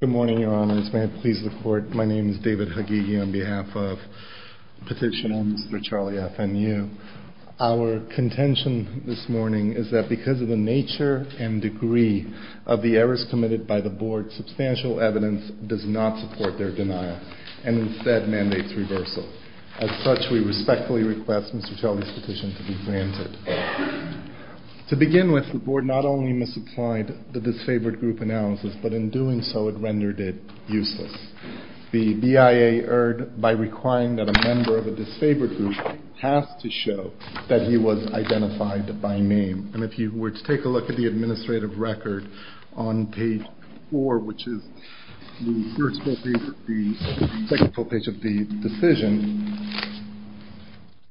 Good morning, Your Honors. May it please the Court, my name is David Hagegi on behalf of the petition on Mr. Charlie Fnu. Our contention this morning is that because of the nature and degree of the errors committed by the Board, substantial evidence does not support their denial and instead mandates reversal. As such, we respectfully request Mr. Charlie's petition to be granted. To begin with, the Board not only misapplied the disfavored group analysis, but in doing so, it rendered it useless. The BIA erred by requiring that a member of a disfavored group has to show that he was identified by name. And if you were to take a look at the administrative record on page 4, which is the second full page of the decision,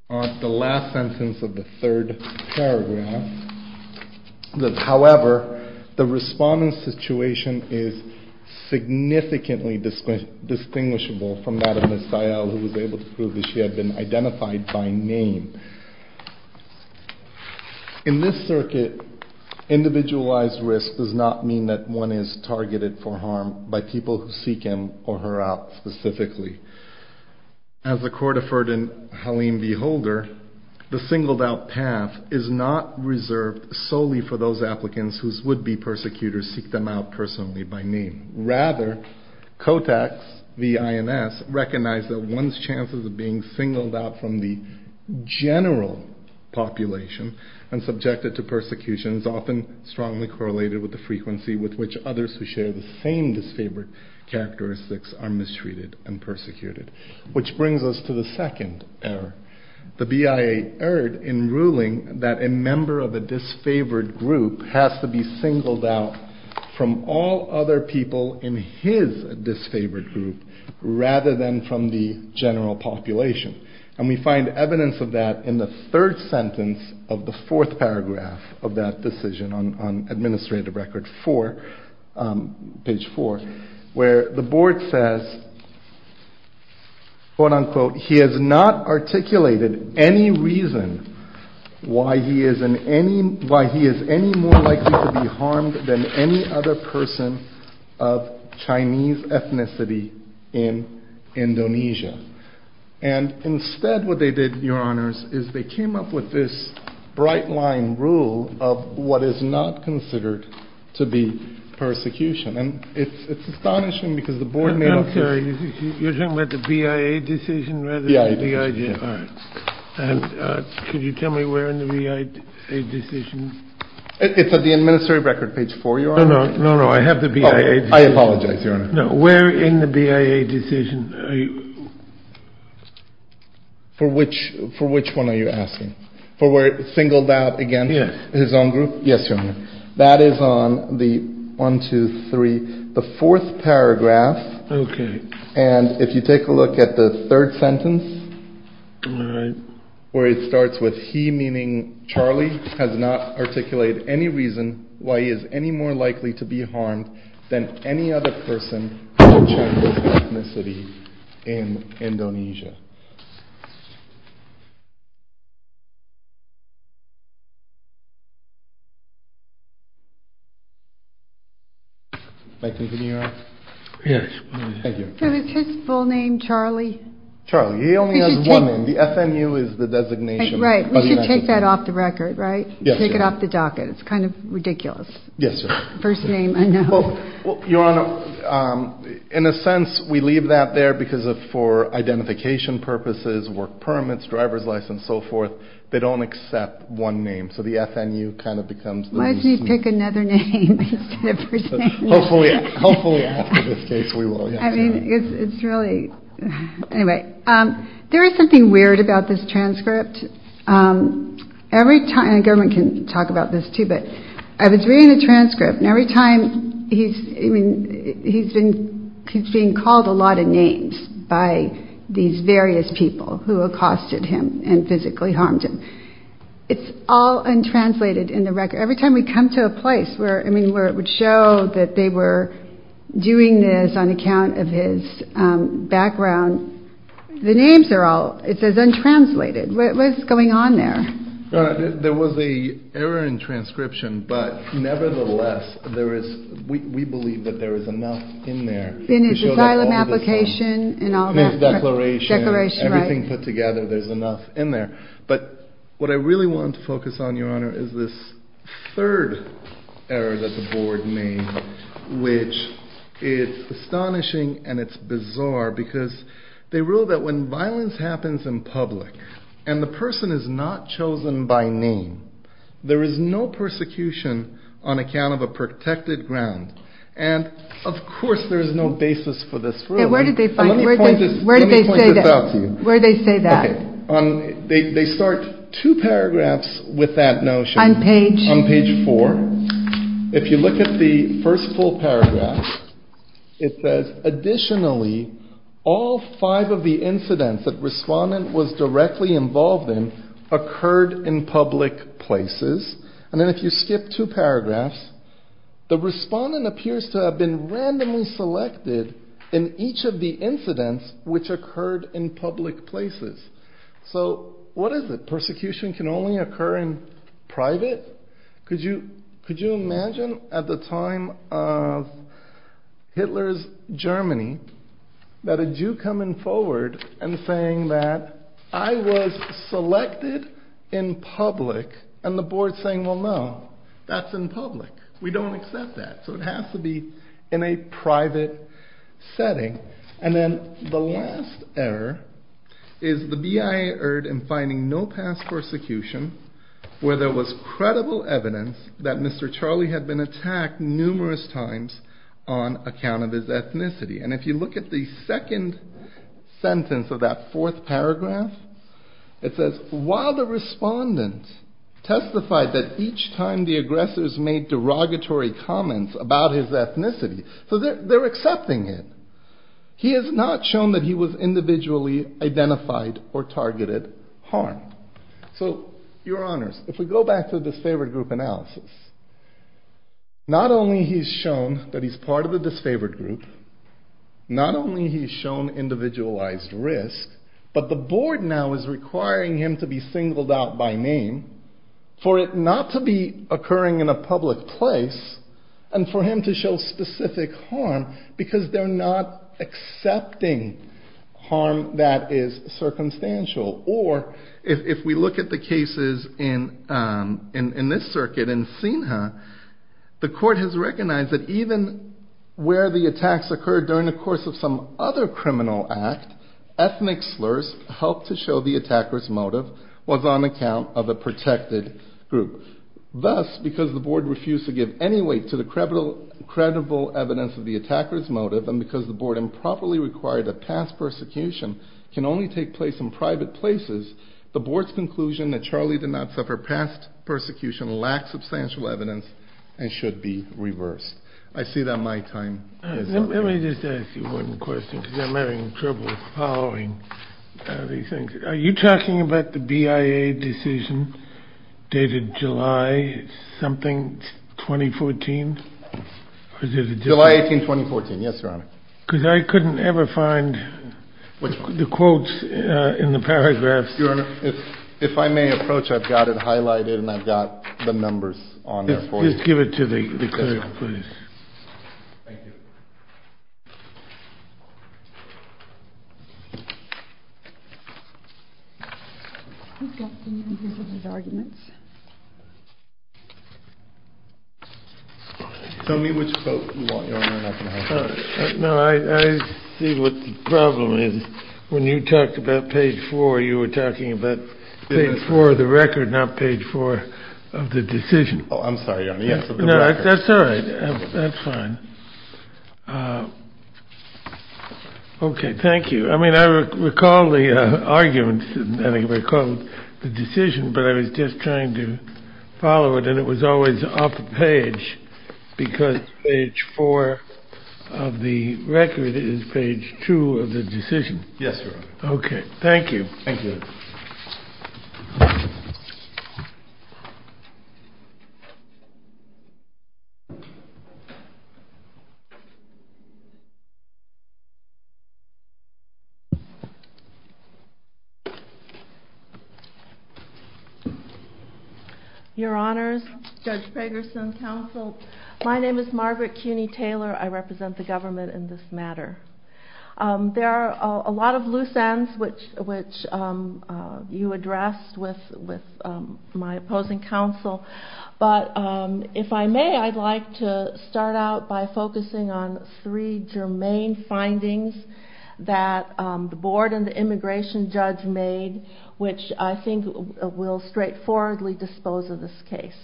on the last sentence of the third paragraph, however, the respondent's situation is significantly distinguishable from that of Ms. Dial, who was able to prove that she had been identified by name. In this circuit, individualized risk does not mean that one is targeted for harm by people who seek him or her out specifically. As the Court affirmed in Halim v. Holder, the singled-out path is not reserved solely for those applicants whose would-be persecutors seek them out personally by name. Rather, COTACs v. INS recognize that one's chances of being singled out from the general population and subjected to persecution is often strongly correlated with the frequency with which others who share the same disfavored characteristics are mistreated and persecuted. Which brings us to the second error. The BIA erred in ruling that a member of a disfavored group has to be singled out from all other people in his disfavored group rather than from the general population. And we find evidence of that in the third sentence of the fourth paragraph of that decision on administrative record four, page four, where the board says, quote-unquote, he has not articulated any reason why he is any more likely to be harmed than any other person of Chinese ethnicity in Indonesia. And instead what they did, Your Honors, is they came up with this bright-line rule of what is not considered to be persecution. And it's astonishing because the board may not care. I'm sorry. You're talking about the BIA decision rather than the BIA decision? BIA decision. All right. And could you tell me where in the BIA decision? It's at the administrative record, page four, Your Honor. No, no. I have the BIA decision. I apologize, Your Honor. No. Where in the BIA decision are you? For which one are you asking? For where it's singled out against his own group? Yes. That is on the one, two, three, the fourth paragraph. Okay. And if you take a look at the third sentence. All right. Where it starts with he, meaning Charlie, has not articulated any reason why he is any more likely to be harmed than any other person of Chinese ethnicity in Indonesia. May I continue, Your Honor? Yes. Thank you. So is his full name Charlie? Charlie. He only has one name. The FNU is the designation. Right. We should take that off the record, right? Yes, Your Honor. Take it off the docket. It's kind of ridiculous. Yes, Your Honor. First name unknown. Well, Your Honor, in a sense, we leave that there because for identification purposes, work permits, driver's license, so forth, they don't accept one name. So the FNU kind of becomes. Why don't you pick another name? Hopefully, hopefully after this case we will. I mean, it's really. Anyway, there is something weird about this transcript. Every time the government can talk about this, too. But I was reading the transcript. And every time he's I mean, he's been he's being called a lot of names by these various people who accosted him and physically harmed him. It's all untranslated in the record. Every time we come to a place where I mean, where it would show that they were doing this on account of his background. The names are all it says untranslated. What was going on there? There was a error in transcription. But nevertheless, there is we believe that there is enough in there. In his asylum application. In his declaration. Declaration, right. Everything put together, there's enough in there. But what I really want to focus on, Your Honor, is this third error that the board made, which is astonishing. And it's bizarre because they rule that when violence happens in public and the person is not chosen by name, there is no persecution on account of a protected ground. And of course, there is no basis for this. Where did they find it? Where did they say that? They start two paragraphs with that notion on page four. If you look at the first full paragraph, it says, additionally, all five of the incidents that respondent was directly involved in occurred in public places. And then if you skip two paragraphs, the respondent appears to have been randomly selected in each of the incidents which occurred in public places. So what is it? Persecution can only occur in private. Could you imagine at the time of Hitler's Germany that a Jew coming forward and saying that I was selected in public and the board saying, well, no, that's in public. We don't accept that. So it has to be in a private setting. And then the last error is the BIA erred in finding no past persecution where there was credible evidence that Mr. Charlie had been attacked numerous times on account of his ethnicity. And if you look at the second sentence of that fourth paragraph, it says, while the respondent testified that each time the aggressors made derogatory comments about his ethnicity, so they're accepting it. He has not shown that he was individually identified or targeted harm. So your honors, if we go back to the disfavored group analysis, not only he's shown that he's part of the disfavored group, not only he's shown individualized risk, but the board now is requiring him to be singled out by name for it not to be occurring in a public place and for him to show specific harm because they're not accepting harm that is circumstantial. Or if we look at the cases in this circuit in Sinha, the court has recognized that even where the attacks occurred during the course of some other criminal act, ethnic slurs helped to show the attacker's motive was on account of a protected group. Thus, because the board refused to give any weight to the credible evidence of the attacker's motive and because the board improperly required that past persecution can only take place in private places, the board's conclusion that Charlie did not suffer past persecution lacks substantial evidence and should be reversed. I see that my time is up. Let me just ask you one question because I'm having trouble following these things. Are you talking about the BIA decision dated July something 2014? July 18, 2014. Yes, Your Honor. Because I couldn't ever find the quotes in the paragraphs. Your Honor, if I may approach, I've got it highlighted and I've got the numbers on there for you. Just give it to the clerk, please. Thank you. He's got the numbers of his arguments. Tell me which quote you want, Your Honor. No, I see what the problem is. When you talked about page four, you were talking about page four of the record, not page four of the decision. Oh, I'm sorry, Your Honor. That's all right. That's fine. Okay, thank you. I mean, I recall the argument and I recall the decision, but I was just trying to follow it and it was always off page because page four of the record is page two of the decision. Yes, Your Honor. Okay, thank you. Thank you. Your Honors, Judge Pegerson, counsel, my name is Margaret Cuny-Taylor. I represent the government in this matter. There are a lot of loose ends which you addressed with my opposing counsel, but if I may, I'd like to start out by focusing on three germane findings that the board and the immigration judge made, which I think will straightforwardly dispose of this case.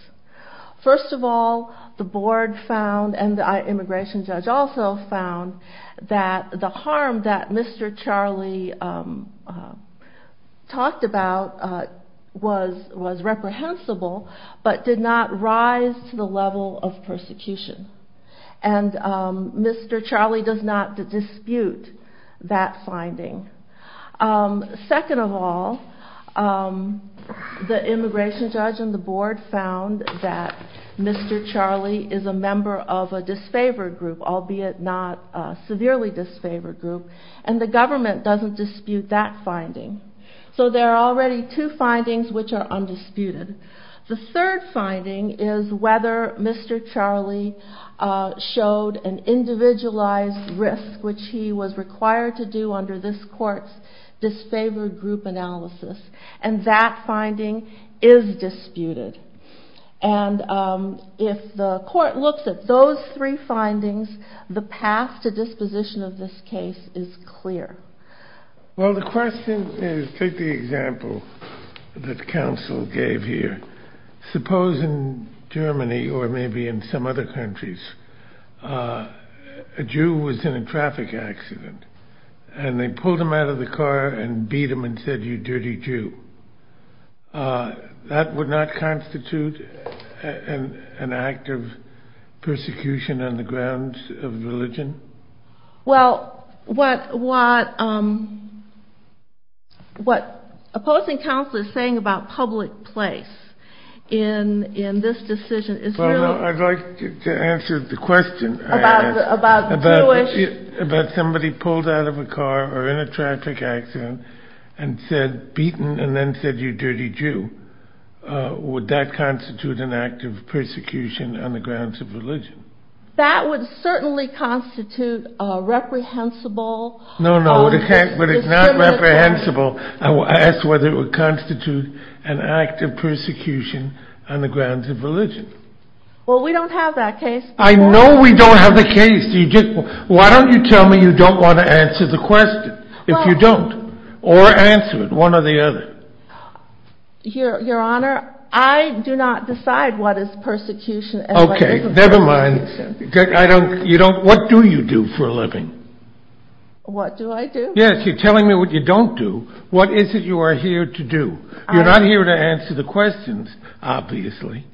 First of all, the board found and the immigration judge also found that the harm that Mr. Charlie talked about was reprehensible, but did not rise to the level of persecution. And Mr. Charlie does not dispute that finding. Second of all, the immigration judge and the board found that Mr. Charlie is a member of a disfavored group, albeit not a severely disfavored group, and the government doesn't dispute that finding. So there are already two findings which are undisputed. The third finding is whether Mr. Charlie showed an individualized risk, which he was required to do under this court's disfavored group analysis. And that finding is disputed. And if the court looks at those three findings, the path to disposition of this case is clear. Well, the question is, take the example that counsel gave here. Suppose in Germany or maybe in some other countries, a Jew was in a traffic accident and they pulled him out of the car and beat him and said, you dirty Jew. That would not constitute an act of persecution on the grounds of religion? Well, what opposing counsel is saying about public place in this decision is really... I'd like to answer the question I asked. About the Jewish... About somebody pulled out of a car or in a traffic accident and said, beaten and then said, you dirty Jew. Would that constitute an act of persecution on the grounds of religion? That would certainly constitute a reprehensible... No, no, but it's not reprehensible. I asked whether it would constitute an act of persecution on the grounds of religion. Well, we don't have that case. I know we don't have the case. Why don't you tell me you don't want to answer the question, if you don't? Or answer it, one or the other. Your Honor, I do not decide what is persecution and what isn't. Okay, never mind. What do you do for a living? What do I do? Yes, you're telling me what you don't do. What is it you are here to do? You're not here to answer the questions, obviously.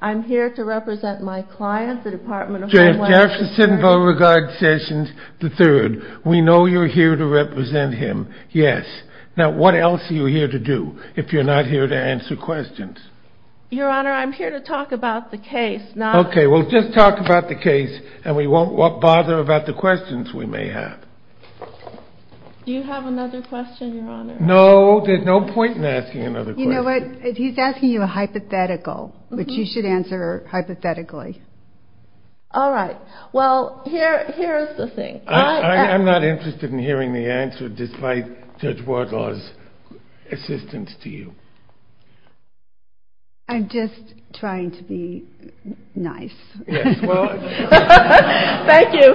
I'm here to represent my client, the Department of Homeland Security. Jeff Jefferson Beauregard Sessions III. We know you're here to represent him, yes. Now, what else are you here to do, if you're not here to answer questions? Your Honor, I'm here to talk about the case. Okay, we'll just talk about the case, and we won't bother about the questions we may have. Do you have another question, Your Honor? No, there's no point in asking another question. You know what, he's asking you a hypothetical, which you should answer hypothetically. All right. Well, here is the thing. I'm not interested in hearing the answer, despite Judge Wardlaw's assistance to you. I'm just trying to be nice. Yes, well. Thank you.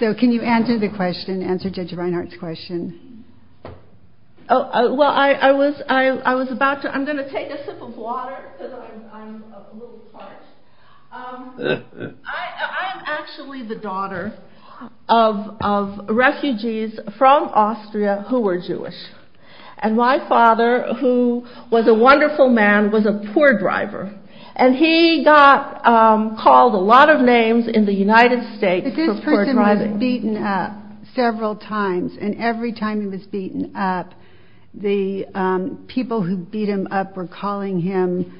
So can you answer the question, answer Judge Reinhart's question? Well, I was about to. I'm going to take a sip of water, because I'm a little parched. I'm actually the daughter of refugees from Austria who were Jewish. And my father, who was a wonderful man, was a poor driver. And he got called a lot of names in the United States for poor driving. This person was beaten up several times, and every time he was beaten up, the people who beat him up were calling him,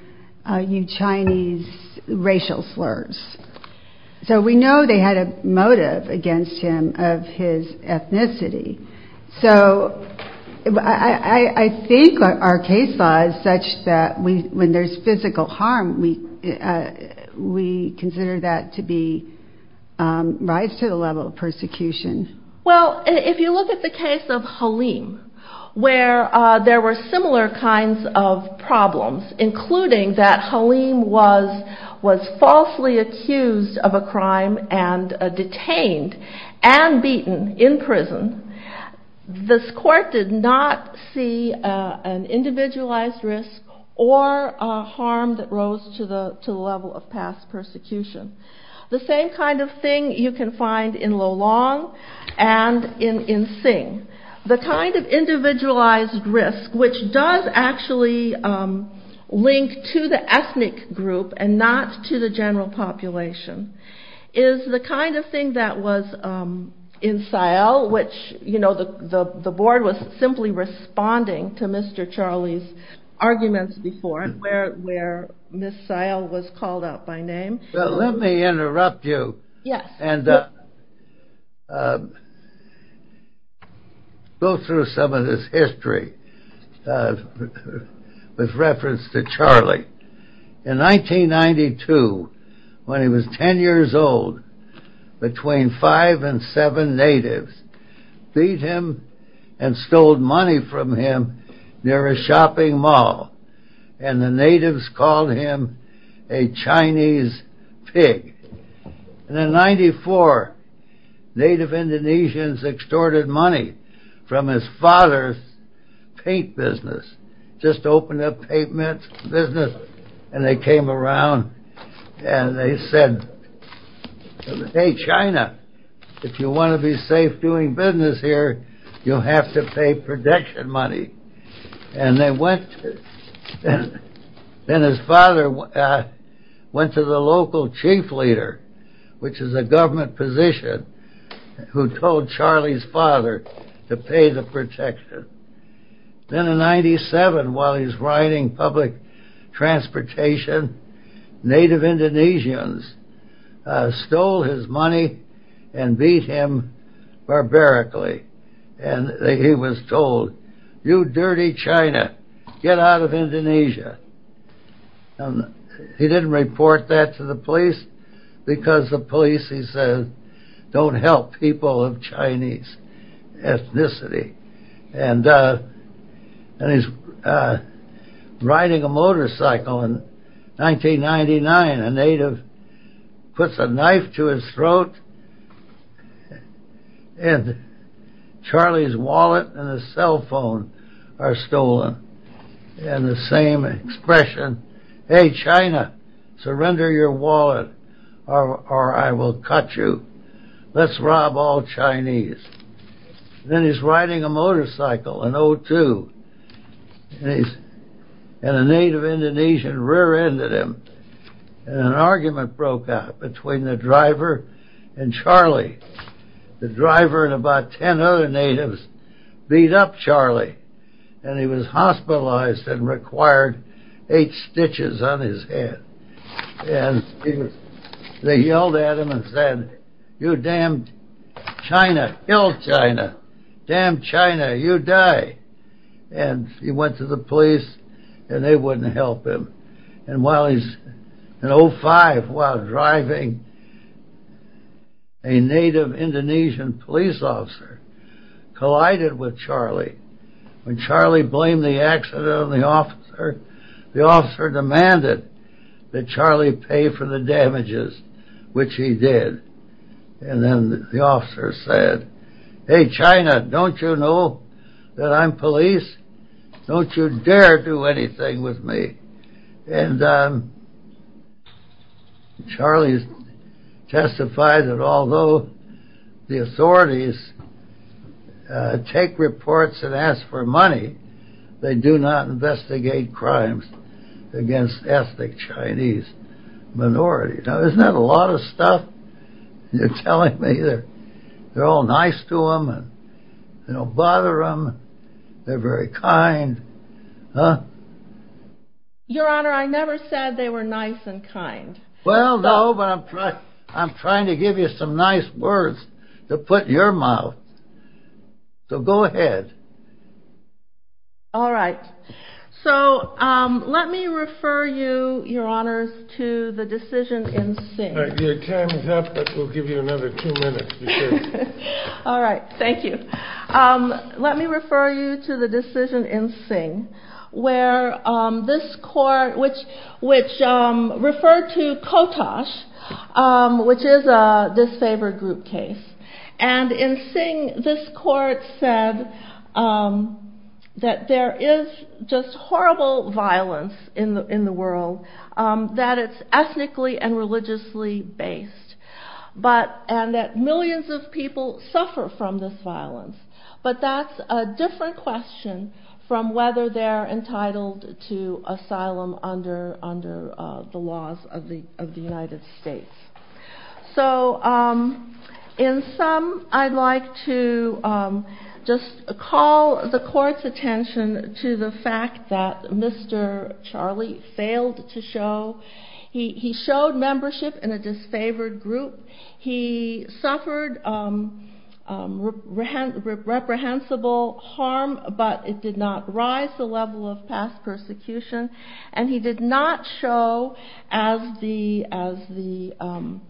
you Chinese, racial slurs. So we know they had a motive against him of his ethnicity. So I think our case law is such that when there's physical harm, we consider that to be rise to the level of persecution. Well, if you look at the case of Halim, where there were similar kinds of problems, including that Halim was falsely accused of a crime and detained and beaten in prison. This court did not see an individualized risk or harm that rose to the level of past persecution. The same kind of thing you can find in Lolong and in Sing. The kind of individualized risk, which does actually link to the ethnic group and not to the general population, is the kind of thing that was in Sael, which the board was simply responding to Mr. Charlie's arguments before, and where Ms. Sael was called out by name. Let me interrupt you and go through some of this history with reference to Charlie. In 1992, when he was 10 years old, between five and seven natives beat him and stole money from him near a shopping mall, and the natives called him a Chinese pig. And in 94, native Indonesians extorted money from his father's paint business, just opened up paint business, and they came around and they said, hey China, if you want to be safe doing business here, you'll have to pay protection money. Then his father went to the local chief leader, which is a government position, who told Charlie's father to pay the protection. Then in 97, while he's riding public transportation, native Indonesians stole his money and beat him barbarically. And he was told, you dirty China, get out of Indonesia. He didn't report that to the police, because the police, he said, don't help people of Chinese ethnicity. And he's riding a motorcycle in 1999, a native puts a knife to his throat, and Charlie's wallet and his cell phone are stolen. And the same expression, hey China, surrender your wallet or I will cut you. Let's rob all Chinese. Then he's riding a motorcycle in 2002, and a native Indonesian rear-ended him. And an argument broke out between the driver and Charlie. The driver and about ten other natives beat up Charlie, and he was hospitalized and required eight stitches on his head. And they yelled at him and said, you damn China, ill China, damn China, you die. And he went to the police, and they wouldn't help him. And while he's in 05, while driving, a native Indonesian police officer collided with Charlie. When Charlie blamed the accident on the officer, the officer demanded that Charlie pay for the damages, which he did. And then the officer said, hey China, don't you know that I'm police? Don't you dare do anything with me. And Charlie testified that although the authorities take reports and ask for money, they do not investigate crimes against ethnic Chinese minorities. Now isn't that a lot of stuff? You're telling me they're all nice to them, and they don't bother them, they're very kind, huh? Your Honor, I never said they were nice and kind. Well, no, but I'm trying to give you some nice words to put in your mouth. So go ahead. All right. So let me refer you, Your Honors, to the decision in Sing. Your time is up, but we'll give you another two minutes. All right, thank you. Let me refer you to the decision in Sing, which referred to Kotosh, which is a disfavored group case. And in Sing, this court said that there is just horrible violence in the world, that it's ethnically and religiously based, and that millions of people suffer from this violence. But that's a different question from whether they're entitled to asylum under the laws of the United States. So in sum, I'd like to just call the court's attention to the fact that Mr. Charlie failed to show. He showed membership in a disfavored group. He suffered reprehensible harm, but it did not rise the level of past persecution. And he did not show, as the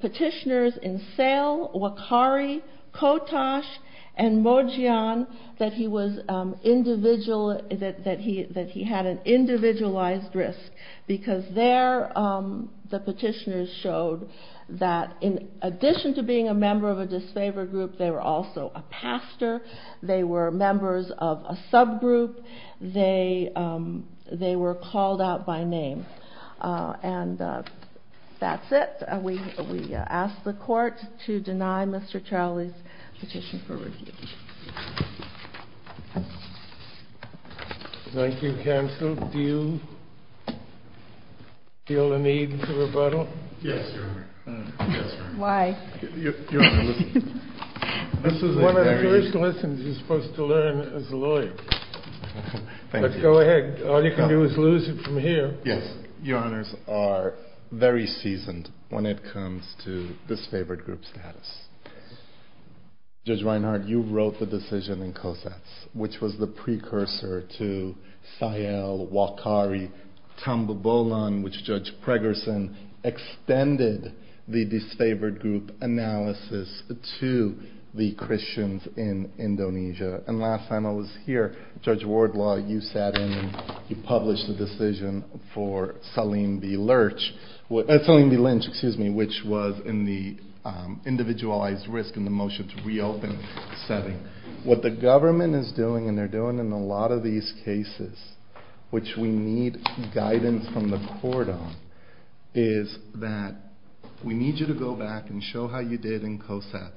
petitioners in Sale, Wakari, Kotosh, and Mojian, that he had an individualized risk. Because there, the petitioners showed that in addition to being a member of a disfavored group, they were also a pastor. They were members of a subgroup. They were called out by name. And that's it. We ask the court to deny Mr. Charlie's petition for review. Thank you, counsel. Do you feel the need to rebuttal? Yes, Your Honor. Why? This is one of the first lessons you're supposed to learn as a lawyer. But go ahead. All you can do is lose it from here. Yes. Your Honors are very seasoned when it comes to disfavored group status. Judge Reinhart, you wrote the decision in Cosats, which was the precursor to Sale, Wakari, Tambubolan, which Judge Pregerson extended the disfavored group analysis to the Christians in Indonesia. And last time I was here, Judge Wardlaw, you published the decision for Salim B. Lynch, which was in the individualized risk and the motion to reopen setting. What the government is doing, and they're doing in a lot of these cases, which we need guidance from the court on, is that we need you to go back and show how you did in Cosats,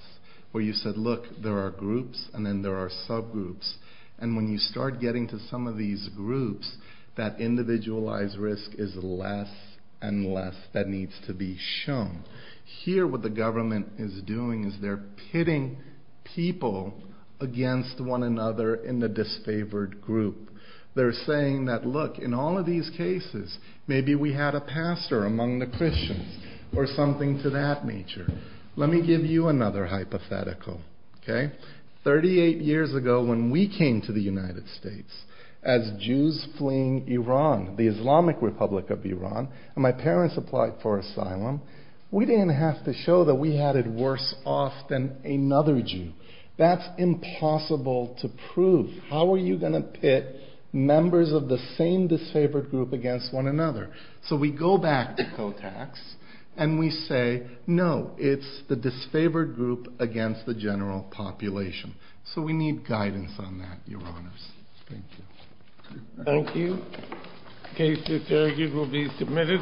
where you said, look, there are groups and then there are subgroups. And when you start getting to some of these groups, that individualized risk is less and less that needs to be shown. Here what the government is doing is they're pitting people against one another in the disfavored group. They're saying that, look, in all of these cases, maybe we had a pastor among the Christians or something to that nature. Let me give you another hypothetical. Thirty-eight years ago when we came to the United States as Jews fleeing Iran, the Islamic Republic of Iran, and my parents applied for asylum, we didn't have to show that we had it worse off than another Jew. That's impossible to prove. How are you going to pit members of the same disfavored group against one another? So we go back to Cosats and we say, no, it's the disfavored group against the general population. So we need guidance on that, Your Honors. Thank you. Thank you. Cases argued will be submitted.